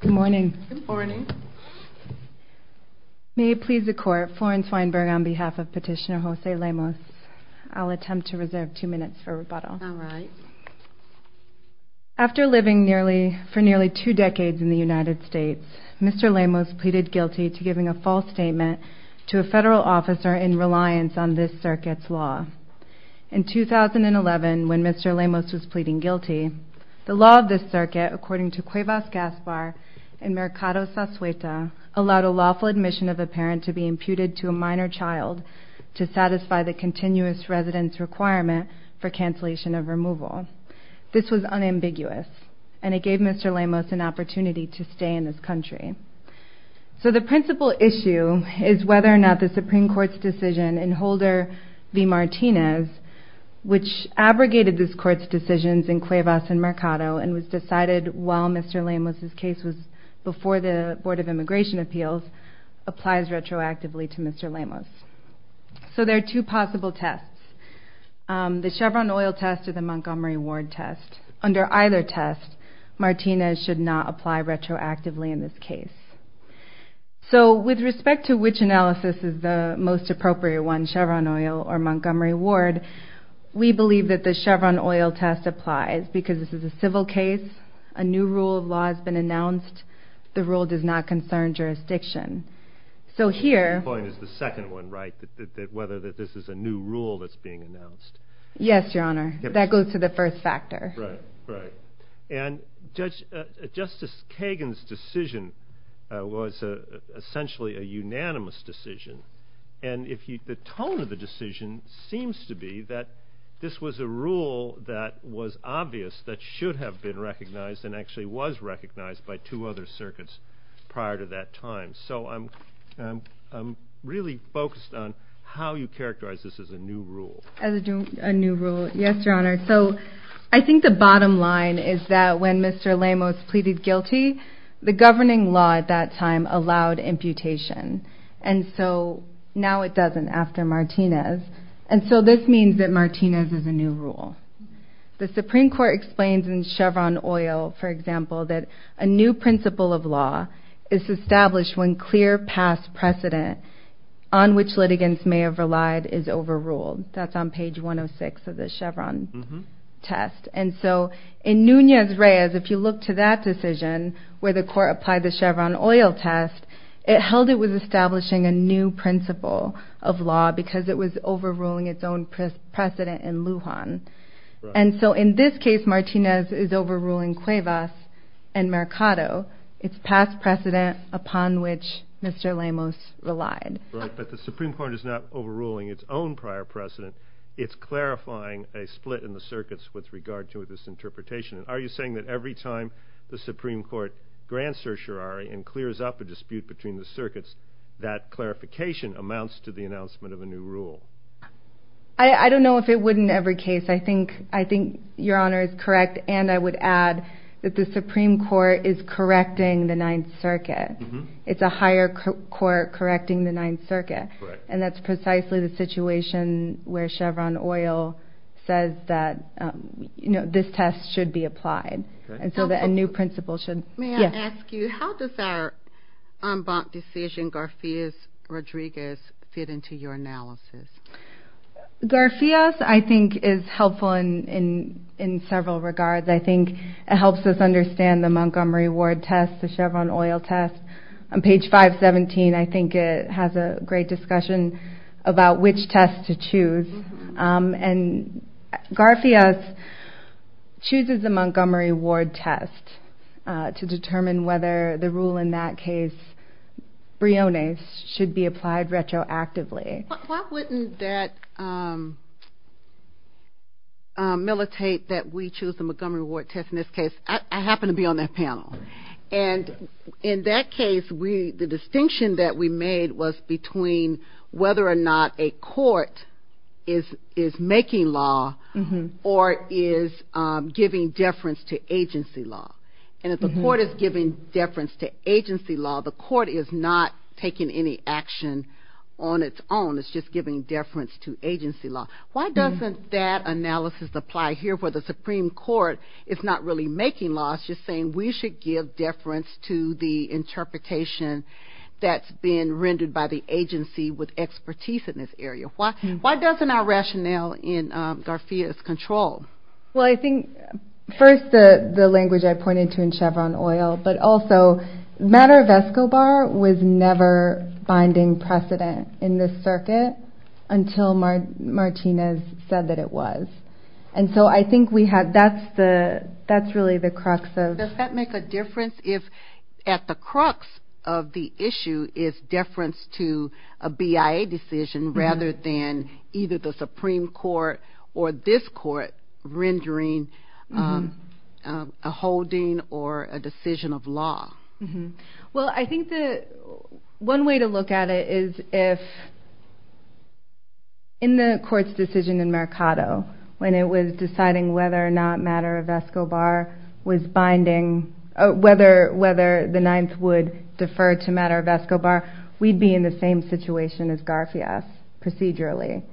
Good morning. May it please the court, Florence Weinberg on behalf of Petitioner Jose Lemus, I'll attempt to reserve two minutes for rebuttal. After living for nearly two decades in the United States, Mr. Lemus pleaded guilty to giving a false statement to a federal officer in reliance on this circuit's law. In 2011, when Mr. Lemus was pleading guilty, the law of this circuit, according to Cuevas Gaspar and Mercado Sasueta, allowed a lawful admission of a parent to be imputed to a minor child to satisfy the continuous residence requirement for cancellation of removal. This was unambiguous, and it gave Mr. Lemus an opportunity to stay in this country. So the principal issue is whether or not the Supreme Court's decision in Holder v. Martinez, which abrogated this court's decisions in Cuevas and Mercado and was decided while Mr. Lemus's case was before the Board of Immigration Appeals, applies retroactively to Mr. Lemus. So there are two possible tests. The Chevron oil test or the Montgomery Ward test applies retroactively in this case. So with respect to which analysis is the most appropriate one, Chevron oil or Montgomery Ward, we believe that the Chevron oil test applies, because this is a civil case, a new rule of law has been announced, the rule does not concern jurisdiction. So here... The second point is the second one, right? That whether this is a new rule that's being announced. Yes, Your Honor. That goes to the first factor. Right, right. And Justice Kagan's decision was essentially a unanimous decision. And if you... The tone of the decision seems to be that this was a rule that was obvious that should have been recognized and actually was recognized by two other circuits prior to that time. So I'm really focused on how you characterize this as a new rule. As a new rule. Yes, Your Honor. So I think the bottom line is that when Mr. Lemus pleaded guilty, the governing law at that time allowed imputation. And so now it doesn't after Martinez. And so this means that Martinez is a new rule. The Supreme Court explains in Chevron oil, for example, that a new principle of law is established when clear past precedent on which Mr. Lemus relied. And so in Nunez-Reyes, if you look to that decision where the court applied the Chevron oil test, it held it was establishing a new principle of law because it was overruling its own precedent in Lujan. And so in this case, Martinez is overruling Cuevas and Mercado, its past precedent upon which Mr. Lemus relied. Right. But the Supreme Court is not overruling its own prior precedent. It's clarifying a split in the circuits with regard to this interpretation. Are you saying that every time the Supreme Court grants certiorari and clears up a dispute between the circuits, that clarification amounts to the announcement of a new rule? I don't know if it would in every case. I think I think Your Honor is correct. And I would add that the Supreme Court is correcting the Ninth Circuit. It's a higher court correcting the Ninth Circuit. And that's precisely the situation where Chevron oil says that, you know, this test should be applied. And so that a new principle should... May I ask you, how does our en banc decision, Garfias-Rodriguez, fit into your analysis? Garfias, I think, is helpful in several regards. I think it helps us understand the Montgomery Ward test, the Chevron oil test. On page 517, I think it has a great discussion about which test to choose. And Garfias chooses the Montgomery Ward test to determine whether the rule in that case, Briones, should be applied retroactively. Why wouldn't that militate that we choose the Montgomery Ward test in this case? I happen to be on that panel. And in that case, the distinction that we made was between whether or not a court is making law or is giving deference to agency law. And if the court is giving deference to agency law, the court is not taking any action on its own. It's just giving deference to agency law. Why doesn't that analysis apply here where the Supreme Court is saying we should give deference to the interpretation that's being rendered by the agency with expertise in this area? Why doesn't our rationale in Garfias control? Well, I think, first, the language I pointed to in Chevron oil, but also, matter of Escobar was never binding precedent in this circuit until Martinez said that it was. And so I think that's really the crux of... Does that make a difference if at the crux of the issue is deference to a BIA decision rather than either the Supreme Court or this court rendering a holding or a decision of law? Well, I think that one way to look at it is if in the court's decision in Mercado when it was deciding whether or not matter of Escobar was binding, whether the Ninth would defer to matter of Escobar, we'd be in the same situation as Garfias procedurally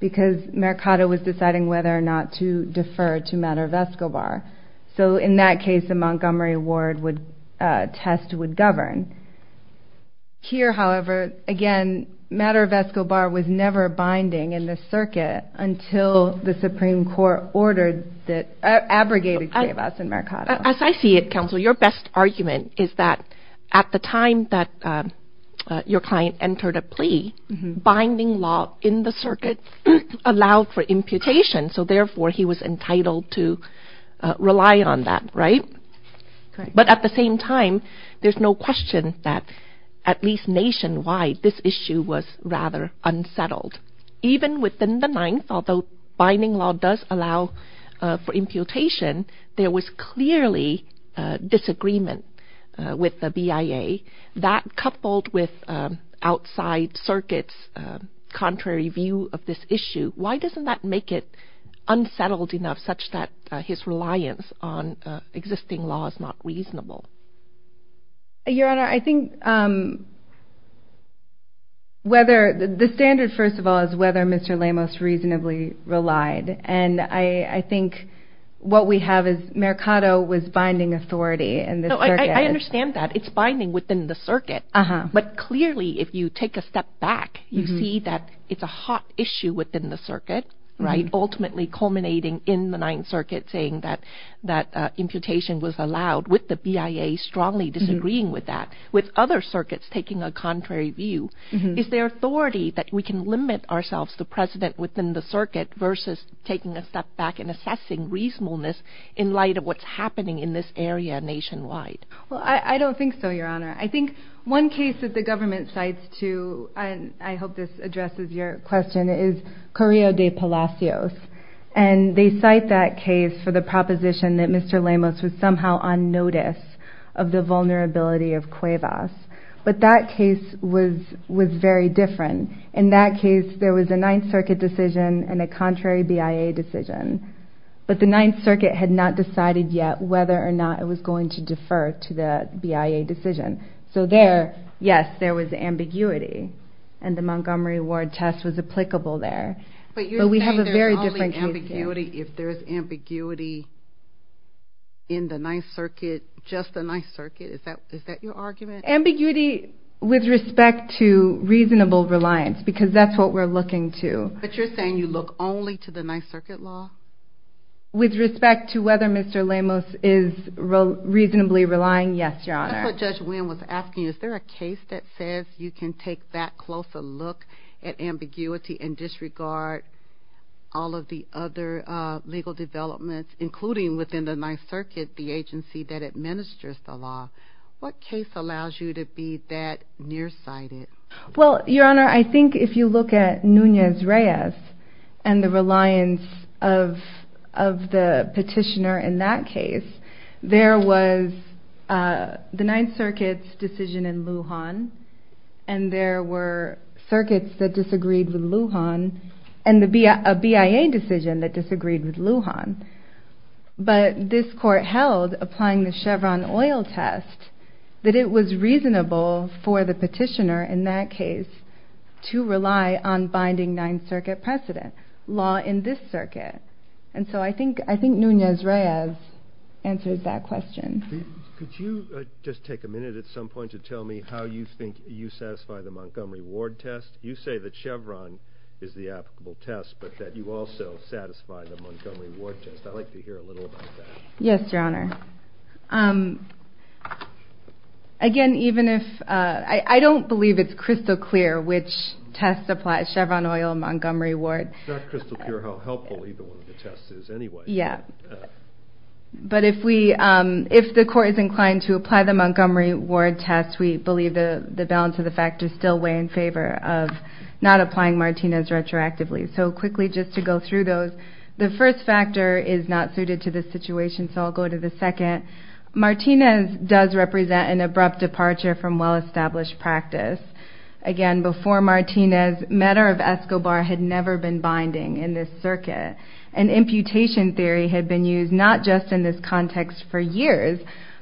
because Mercado was deciding whether or not to defer to matter of Escobar. So in that case, the Montgomery award test would govern. Here, however, again, matter of Escobar was never binding in the circuit until the Supreme Court ordered that, abrogated JVAS in Mercado. As I see it, counsel, your best argument is that at the time that your client entered a plea, binding law in the circuit allowed for imputation. So therefore, he was entitled to rely on that, right? But at the same time, there's no question that at least nationwide, this issue was rather unsettled. Even within the Ninth, although binding law does allow for imputation, there was clearly disagreement with the BIA. That coupled with outside circuit's contrary view of this issue, why doesn't that make it unsettled enough such that his reliance on existing law is not reasonable? Your Honor, I think whether the standard, first of all, is whether Mr. Lemos reasonably relied. And I think what we have is Mercado was binding authority in the circuit. I understand that. It's binding within the circuit. But clearly, if you take a step back, you see that it's a hot issue within the circuit, right? Ultimately culminating in the Ninth BIA strongly disagreeing with that, with other circuits taking a contrary view. Is there authority that we can limit ourselves, the president within the circuit versus taking a step back and assessing reasonableness in light of what's happening in this area nationwide? Well, I don't think so, Your Honor. I think one case that the government cites to, and I hope this addresses your question, is Correo de Palacios. And they cite that case for the vulnerability of CUEVAS. But that case was very different. In that case, there was a Ninth Circuit decision and a contrary BIA decision. But the Ninth Circuit had not decided yet whether or not it was going to defer to the BIA decision. So there, yes, there was ambiguity. And the Montgomery Ward test was applicable there. But we have a very different case. Ambiguity, if there's ambiguity in the Ninth Circuit, just the Ninth Circuit, is that your argument? Ambiguity with respect to reasonable reliance, because that's what we're looking to. But you're saying you look only to the Ninth Circuit law? With respect to whether Mr. Lemos is reasonably relying, yes, Your Honor. That's what Judge Wynn was asking. Is there a case that says you can take that closer look at ambiguity and disregard all of the other legal developments, including within the Ninth Circuit, the agency that administers the law? What case allows you to be that nearsighted? Well, Your Honor, I think if you look at Nunez-Reyes and the reliance of the petitioner in that circuit that disagreed with Lujan and a BIA decision that disagreed with Lujan, but this court held, applying the Chevron oil test, that it was reasonable for the petitioner in that case to rely on binding Ninth Circuit precedent, law in this circuit. And so I think Nunez-Reyes answers that question. Could you just take a minute at some point to tell me how you think you satisfy the Montgomery Ward test? You say that Chevron is the applicable test, but that you also satisfy the Montgomery Ward test. I'd like to hear a little about that. Yes, Your Honor. Again, even if... I don't believe it's crystal clear which test applies, Chevron oil or Montgomery Ward. It's not crystal clear how helpful either one of the tests is anyway. Yeah. But if the court is inclined to apply the Montgomery Ward test, we believe the balance of the factors still weigh in favor of not applying Martinez retroactively. So quickly just to go through those. The first factor is not suited to this situation, so I'll go to the second. Martinez does represent an abrupt departure from well-established practice. Again, before Martinez, matter of Escobar had never been binding in this circuit. And imputation theory had been used not just in this context for years,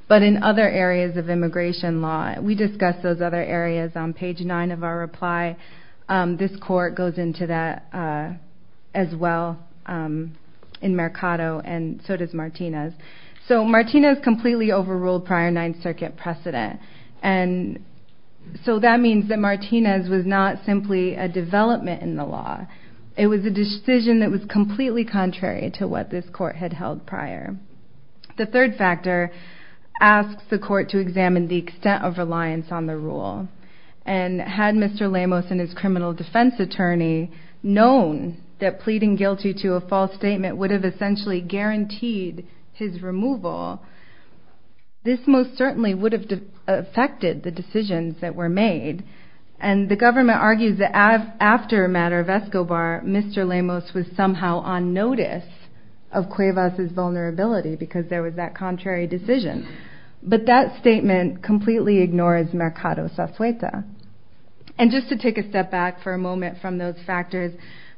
but in other areas of immigration law. We discussed those other areas on page nine of our reply. This court goes into that as well in Mercado, and so does Martinez. So Martinez completely overruled prior Ninth Circuit precedent. And so that means that Martinez was not simply a development in the law. It was a decision that was completely contrary to what this court had held prior. The third factor asks the court to examine the extent of reliance on the rule. And had Mr. Lemos and his criminal defense attorney known that pleading guilty to a false statement would have essentially guaranteed his removal, this most certainly would have affected the decisions that were made. And the government argues that after a matter of Escobar, Mr. Lemos would not be a threat to any of us' vulnerability because there was that contrary decision. But that statement completely ignores Mercado's suspueta. And just to take a step back for a moment from those factors,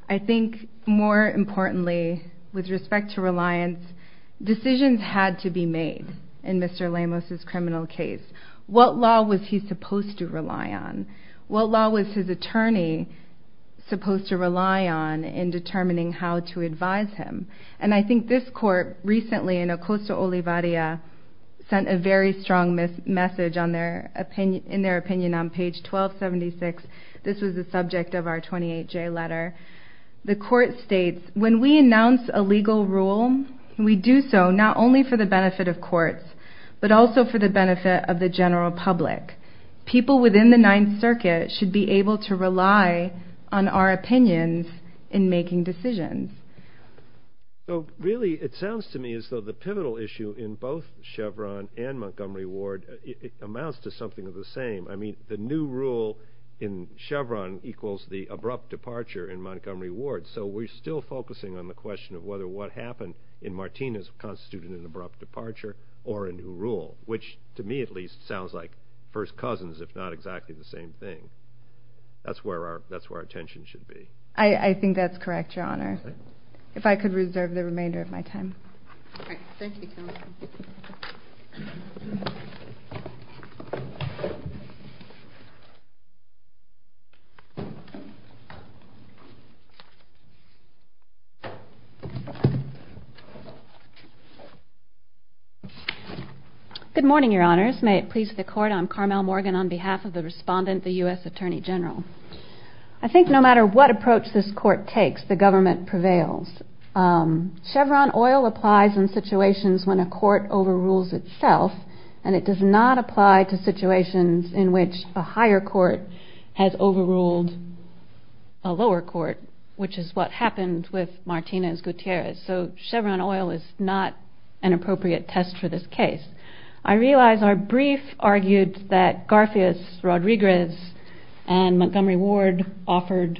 I think more importantly, with respect to reliance, decisions had to be made in Mr. Lemos' criminal case. What law was he supposed to rely on? What law was his attorney supposed to rely on in determining how to advise him? And I think this court recently in Ocosta Olivaria sent a very strong message in their opinion on page 1276. This was the subject of our 28J letter. The court states, when we announce a legal rule, we do so not only for the benefit of courts, but also for the benefit of the general public. People within the Ninth Circuit should be able to rely on our opinions in that regard. It sounds to me as though the pivotal issue in both Chevron and Montgomery Ward amounts to something of the same. I mean, the new rule in Chevron equals the abrupt departure in Montgomery Ward. So we're still focusing on the question of whether what happened in Martinez constituted an abrupt departure or a new rule, which to me at least sounds like first cousins, if not exactly the same thing. That's where our attention should be. I think that's correct, Your Honor. If I could reserve the remainder of my time. Thank you, Counsel. Good morning, Your Honors. May it please the Court, I'm Carmel Morgan on behalf of the government prevails. Chevron oil applies in situations when a court overrules itself, and it does not apply to situations in which a higher court has overruled a lower court, which is what happened with Martinez Gutierrez. So Chevron oil is not an appropriate test for this case. I realize our brief argued that Garfield, Rodriguez, and Montgomery Ward offered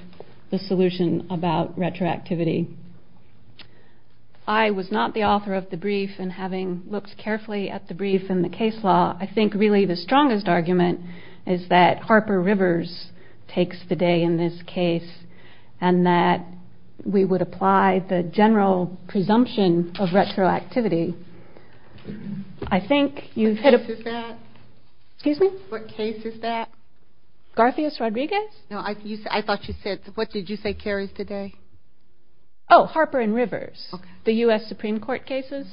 the solution about retroactivity. I was not the author of the brief, and having looked carefully at the brief and the case law, I think really the strongest argument is that Harper Rivers takes the day in this case, and that we would apply the general presumption of retroactivity. I think you've hit a... What case is that? Excuse me? What case is that? Garfield, Rodriguez? No, I thought you said... What did you say carries today? Oh, Harper and Rivers. Okay. The U.S. Supreme Court cases.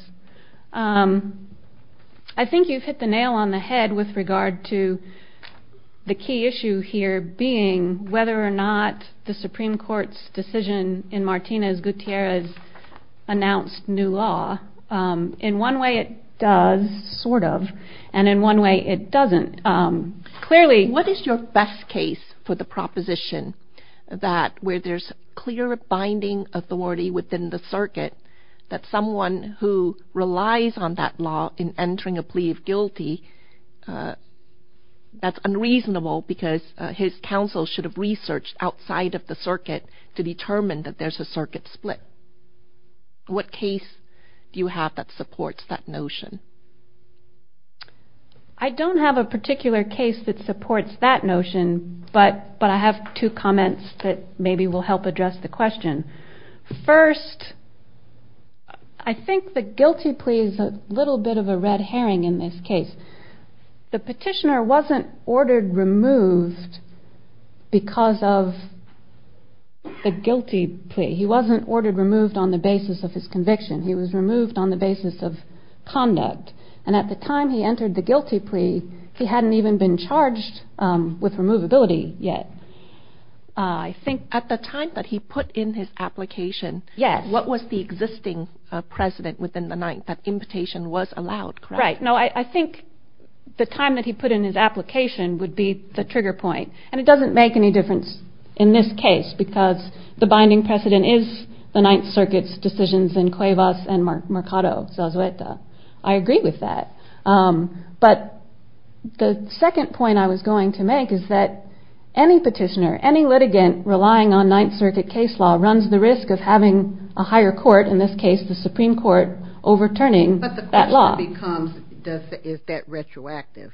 I think you've hit the nail on the head with regard to the key issue here being whether or not the Supreme Court's decision in Martinez Gutierrez announced new law. In one way it does, sort of, and in one way it doesn't. Clearly... What is your best case for the proposition that where there's clear binding authority within the circuit, that someone who relies on that law in entering a plea of guilty, that's unreasonable because his counsel should have researched outside of the circuit to determine that there's a circuit split. What case do you have that supports that notion? I don't have a particular case that supports that notion, but I have two comments that maybe will help address the question. First, I think the guilty plea is a little bit of a red herring in this case. The petitioner wasn't ordered removed because of the guilty plea. He wasn't ordered removed on the basis of his conviction. He was removed on the basis of conduct. And at the time he entered the guilty plea, he hadn't even been charged with removability yet. I think at the time that he put in his application, what was the existing precedent within the Ninth that imputation was allowed, correct? Right. No, I think the time that he put in his application would be the trigger point. And it doesn't make any difference in this case because the binding precedent is the Ninth Circuit's decisions in Cuevas and Mercado. I agree with that. But the second point I was going to make is that any petitioner, any litigant relying on Ninth Circuit case law runs the risk of having a higher court, in this case the Supreme Court, overturning that law. But the question becomes, is that retroactive?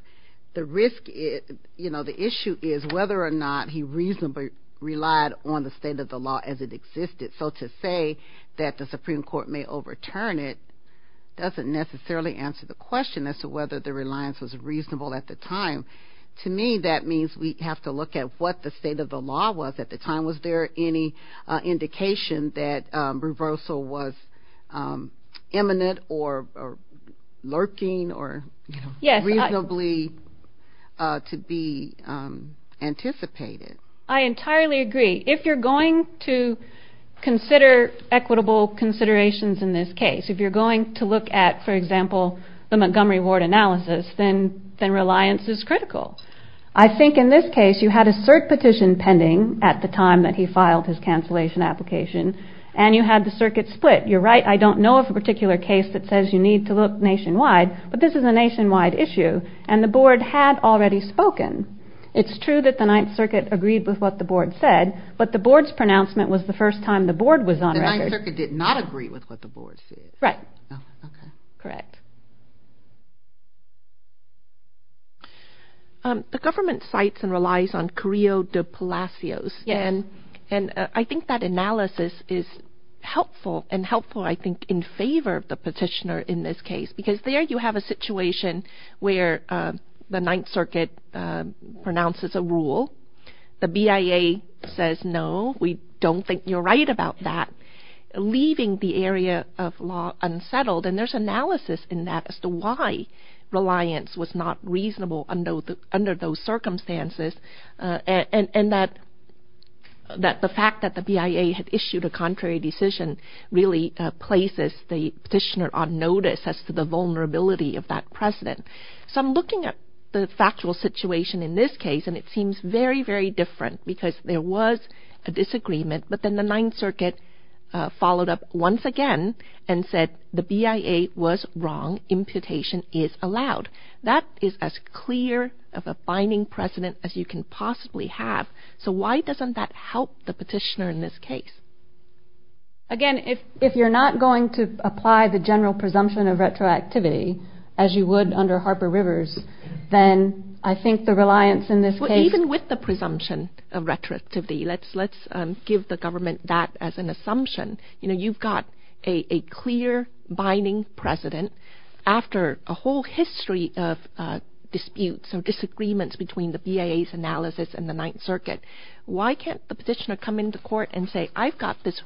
The issue is whether or not he reasonably relied on the state of the law as it existed. So to say that the Supreme Court may overturn it doesn't necessarily answer the question as to whether the reliance was reasonable at the time. To me, that means we have to look at what the state of the law was at the time. Was there any indication that reversal was imminent or lurking or reasonably to be anticipated? I entirely agree. If you're going to consider equitable considerations in this case, if you're going to look at, for example, the Montgomery Ward analysis, then reliance is critical. I think in this case you had a cert petition pending at the time that he filed his cancellation application and you had the circuit split. You're right, I don't know of a particular case that says you need to look nationwide, but this is a The Ninth Circuit agreed with what the board said, but the board's pronouncement was the first time the board was on record. The Ninth Circuit did not agree with what the board said. Right. Okay. Correct. The government cites and relies on Creo de Palacios, and I think that analysis is helpful and helpful, I think, in favor of the petitioner in this The BIA says, no, we don't think you're right about that. Leaving the area of law unsettled, and there's analysis in that as to why reliance was not reasonable under those circumstances, and that the fact that the BIA had issued a contrary decision really places the petitioner on notice as to the vulnerability of that precedent. So I'm looking at the factual situation in this case, and it seems very, very different because there was a disagreement, but then the Ninth Circuit followed up once again and said the BIA was wrong, imputation is allowed. That is as clear of a binding precedent as you can possibly have. So why doesn't that help the petitioner in this case? Again, if you're not going to I think the reliance in this case... Well, even with the presumption of retroactivity, let's give the government that as an assumption. You know, you've got a clear binding precedent after a whole history of disputes or disagreements between the BIA's analysis and the Ninth Circuit. Why can't the petitioner come into court and say, I've got this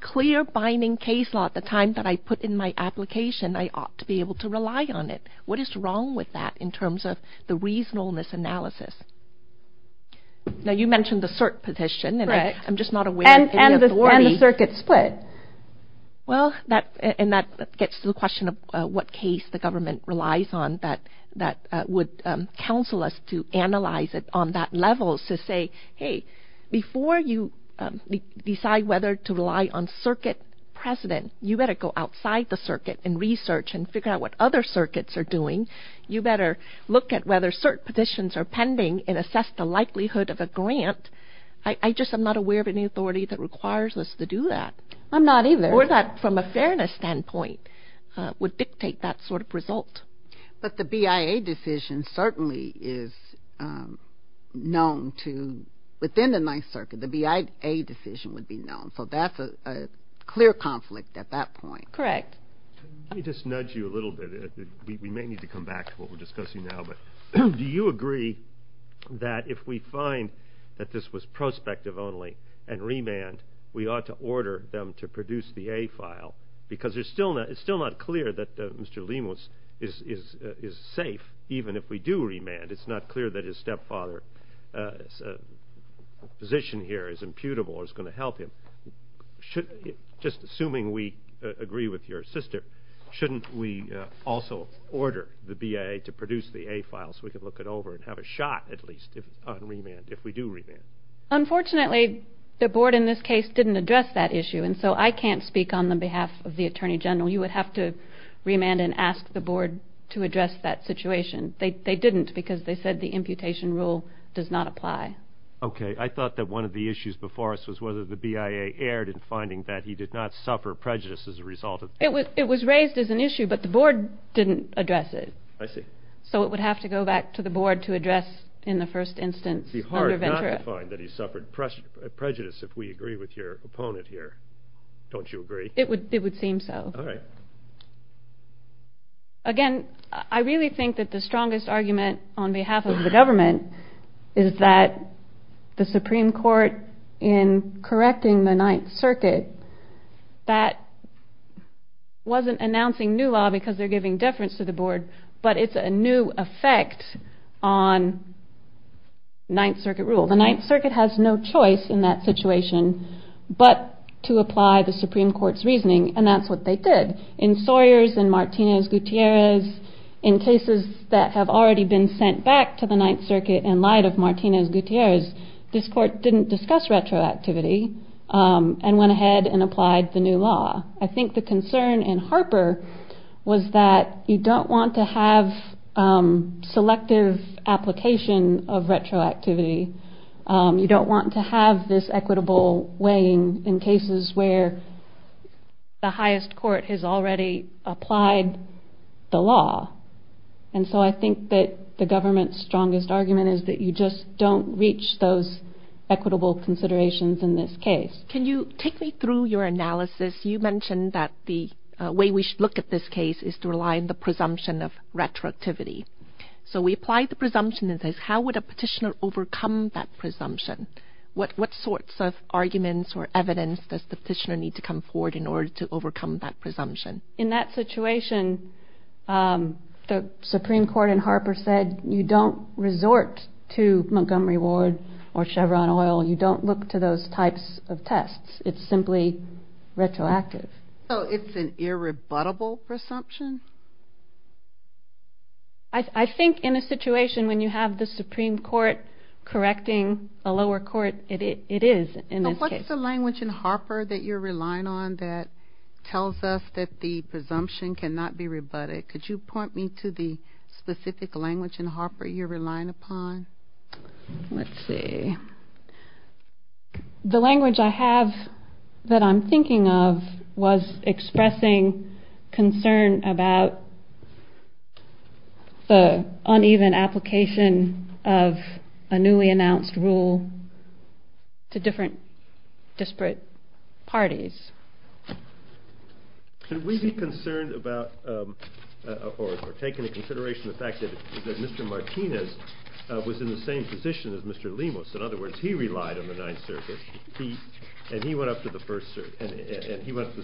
clear binding case law at the time that I put in my application. I ought to be able to rely on it. What is wrong with that in terms of the reasonableness analysis? Now, you mentioned the CERT petition, and I'm just not aware... And the circuit split. Well, and that gets to the question of what case the government relies on that would counsel us to analyze it on that level to say, hey, before you decide whether to rely on circuit precedent, you better go outside the circuit and research and figure out what other circuits are doing. You better look at whether CERT petitions are pending and assess the likelihood of a grant. I just am not aware of any authority that requires us to do that. I'm not either. Or that from a fairness standpoint would dictate that sort of result. But the BIA decision certainly is known to... Within the Ninth Circuit, the BIA decision would be known. So that's a clear conflict at that point. Correct. Let me just nudge you a little bit. We may need to come back to what we're discussing now, but do you agree that if we find that this was prospective only and remand, we ought to order them to produce the A file? Because it's still not clear that Mr. Lemus is safe even if we do remand. It's not clear that his stepfather's position here is imputable or is going to help him. Just assuming we agree with your sister, shouldn't we also order the BIA to produce the A file so we can look it over and have a shot at least on remand if we do remand? Unfortunately, the board in this case didn't address that issue. And so I can't speak on the behalf of the Attorney General. You would have to remand and ask the board to address that situation. They didn't because they said the imputation rule does not apply. Okay. I thought that one of the issues before us was whether the BIA erred in finding that he did not suffer prejudice as a result of that. It was raised as an issue, but the board didn't address it. I see. So it would have to go back to the board to address in the first instance. It would be hard not to find that he suffered prejudice if we agree with your opponent here. Don't you agree? It would seem so. Again, I really think that the strongest argument on behalf of the government is that the Supreme Court in correcting the Ninth Circuit, that wasn't announcing new law because they're giving deference to the board, but it's a new effect on Ninth Circuit rule. The Ninth Circuit has no choice in that situation but to apply the Supreme Court's reasoning and that's what they did. In Sawyers and Martinez-Gutierrez, in cases that have already been sent back to the Ninth Circuit in light of Martinez-Gutierrez, this court didn't discuss retroactivity and went ahead and applied the new law. I think the concern in Harper was that you don't want to have selective application of retroactivity. You don't want to have this the highest court has already applied the law and so I think that the government's strongest argument is that you just don't reach those equitable considerations in this case. Can you take me through your analysis? You mentioned that the way we should look at this case is to rely on the presumption of retroactivity. So we apply the presumption that says how would a petitioner overcome that presumption? What sorts of arguments or evidence does the In that situation, the Supreme Court in Harper said you don't resort to Montgomery Ward or Chevron Oil. You don't look to those types of tests. It's simply retroactive. So it's an irrebuttable presumption? I think in a situation when you have the Supreme Court correcting a lower court, it is in this case. So what's the language in Harper that you're relying on that tells us that the presumption cannot be rebutted? Could you point me to the specific language in Harper you're relying upon? Let's see. The language I have that I'm thinking of was expressing concern about the uneven application of a newly announced rule to different disparate parties. Should we be concerned about or taking into consideration the fact that Mr. Martinez was in the same position as Mr. Lemus? In other words, he relied on the Ninth Circuit and he went up to the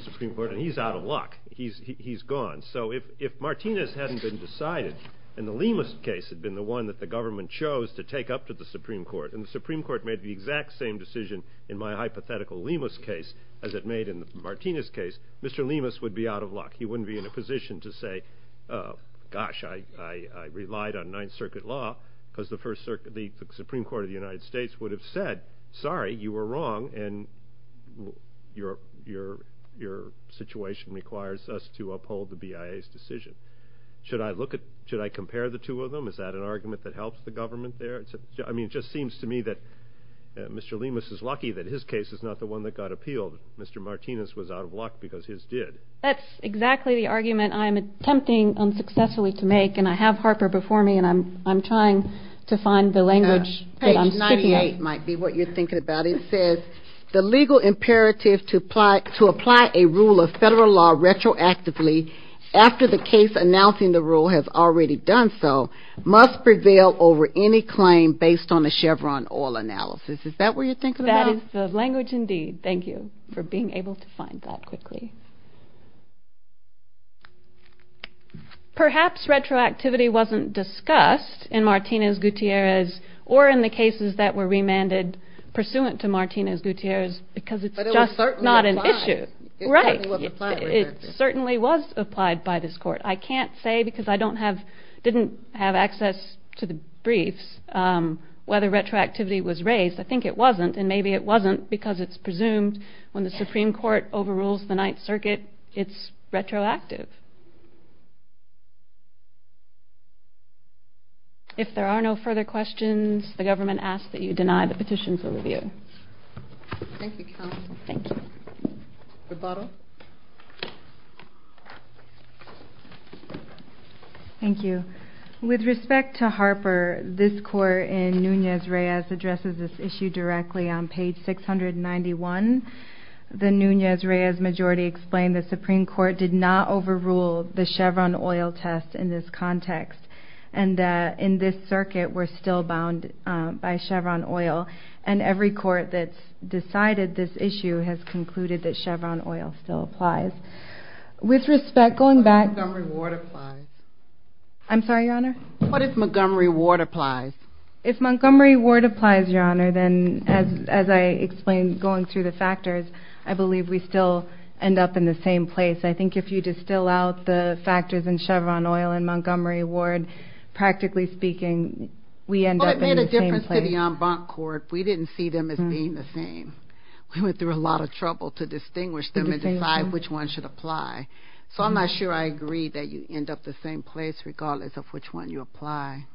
Supreme Court and he's out of luck. He's gone. So if Martinez hadn't been decided and the Lemus case had been decided, and the one that the government chose to take up to the Supreme Court, and the Supreme Court made the exact same decision in my hypothetical Lemus case as it made in the Martinez case, Mr. Lemus would be out of luck. He wouldn't be in a position to say, gosh, I relied on Ninth Circuit law because the Supreme Court of the United States would have said, sorry, you were wrong and your situation requires us to uphold the BIA's decision. Should I look at, should I compare the two of them? Is that an argument that helps the government there? I mean, it just seems to me that Mr. Lemus is lucky that his case is not the one that got appealed. Mr. Martinez was out of luck because his did. That's exactly the argument I'm attempting unsuccessfully to make, and I have Harper before me, and I'm trying to find the language that I'm speaking of. Page 98 might be what you're thinking about. It says, the legal imperative to the defense announcing the rule has already done so, must prevail over any claim based on a Chevron oil analysis. Is that what you're thinking about? That is the language indeed. Thank you for being able to find that quickly. Perhaps retroactivity wasn't discussed in Martinez-Gutierrez or in the cases that were remanded pursuant to Martinez-Gutierrez because it's just not an issue. But it was certainly applied. Right. It certainly was applied by this court. I can't say because I don't have, didn't have access to the briefs whether retroactivity was raised. I think it wasn't, and maybe it wasn't because it's presumed when the Supreme Court overrules the Ninth Circuit, it's retroactive. If there are no further questions, the government asks that you deny the petitions over the air. Thank you counsel. Thank you. Rebuttal. Thank you. With respect to Harper, this court in Nunez-Reyes addresses this issue directly on page 691. The Nunez-Reyes majority explained the Supreme Court did not overrule the Chevron oil test in this context. And in this circuit, we're still bound by Chevron oil. And every court that's decided this issue has concluded that Chevron oil still applies. With respect, going back... What if Montgomery Ward applies? I'm sorry, Your Honor? What if Montgomery Ward applies? If Montgomery Ward applies, Your Honor, then as I explained going through the factors, I believe we still end up in the same place. I think if you distill out the factors in Chevron oil and Montgomery Ward practically speaking, we end up in the same place. Well, it made a difference to the en banc court. We didn't see them as being the same. We went through a lot of trouble to distinguish them and decide which one should apply. So I'm not sure I agree that you end up the same place regardless of which one you apply.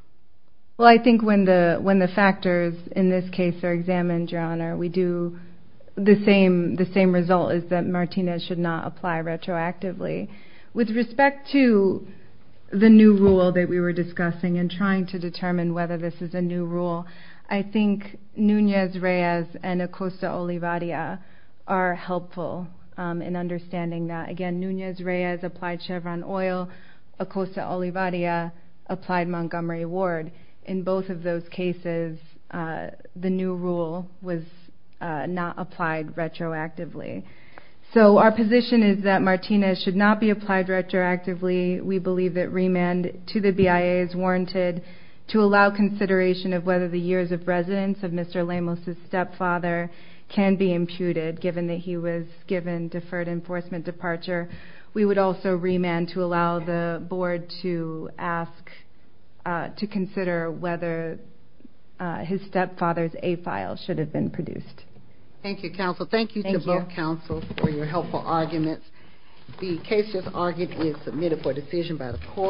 Well, I think when the factors in this case are examined, Your Honor, we do the same result is that Martinez should not apply retroactively. With respect to the new rule that we were discussing and trying to determine whether this is a new rule, I think Nunez-Reyes and Acosta-Olivarria are helpful in understanding that. Again, Nunez-Reyes applied Chevron oil. Acosta-Olivarria applied Montgomery Ward. In both of those cases, the new rule was not applied retroactively. So our position is that Martinez should not be applied retroactively. We believe that remand to the BIA is warranted to allow consideration of whether the years of residence of Mr. Lamos' stepfather can be imputed given that he was given deferred enforcement departure. We would also remand to allow the board to ask to consider whether his stepfather's A file should have been produced. Thank you, counsel. Thank you to both counsel for your helpful arguments. The case just argued is submitted for decision by the court.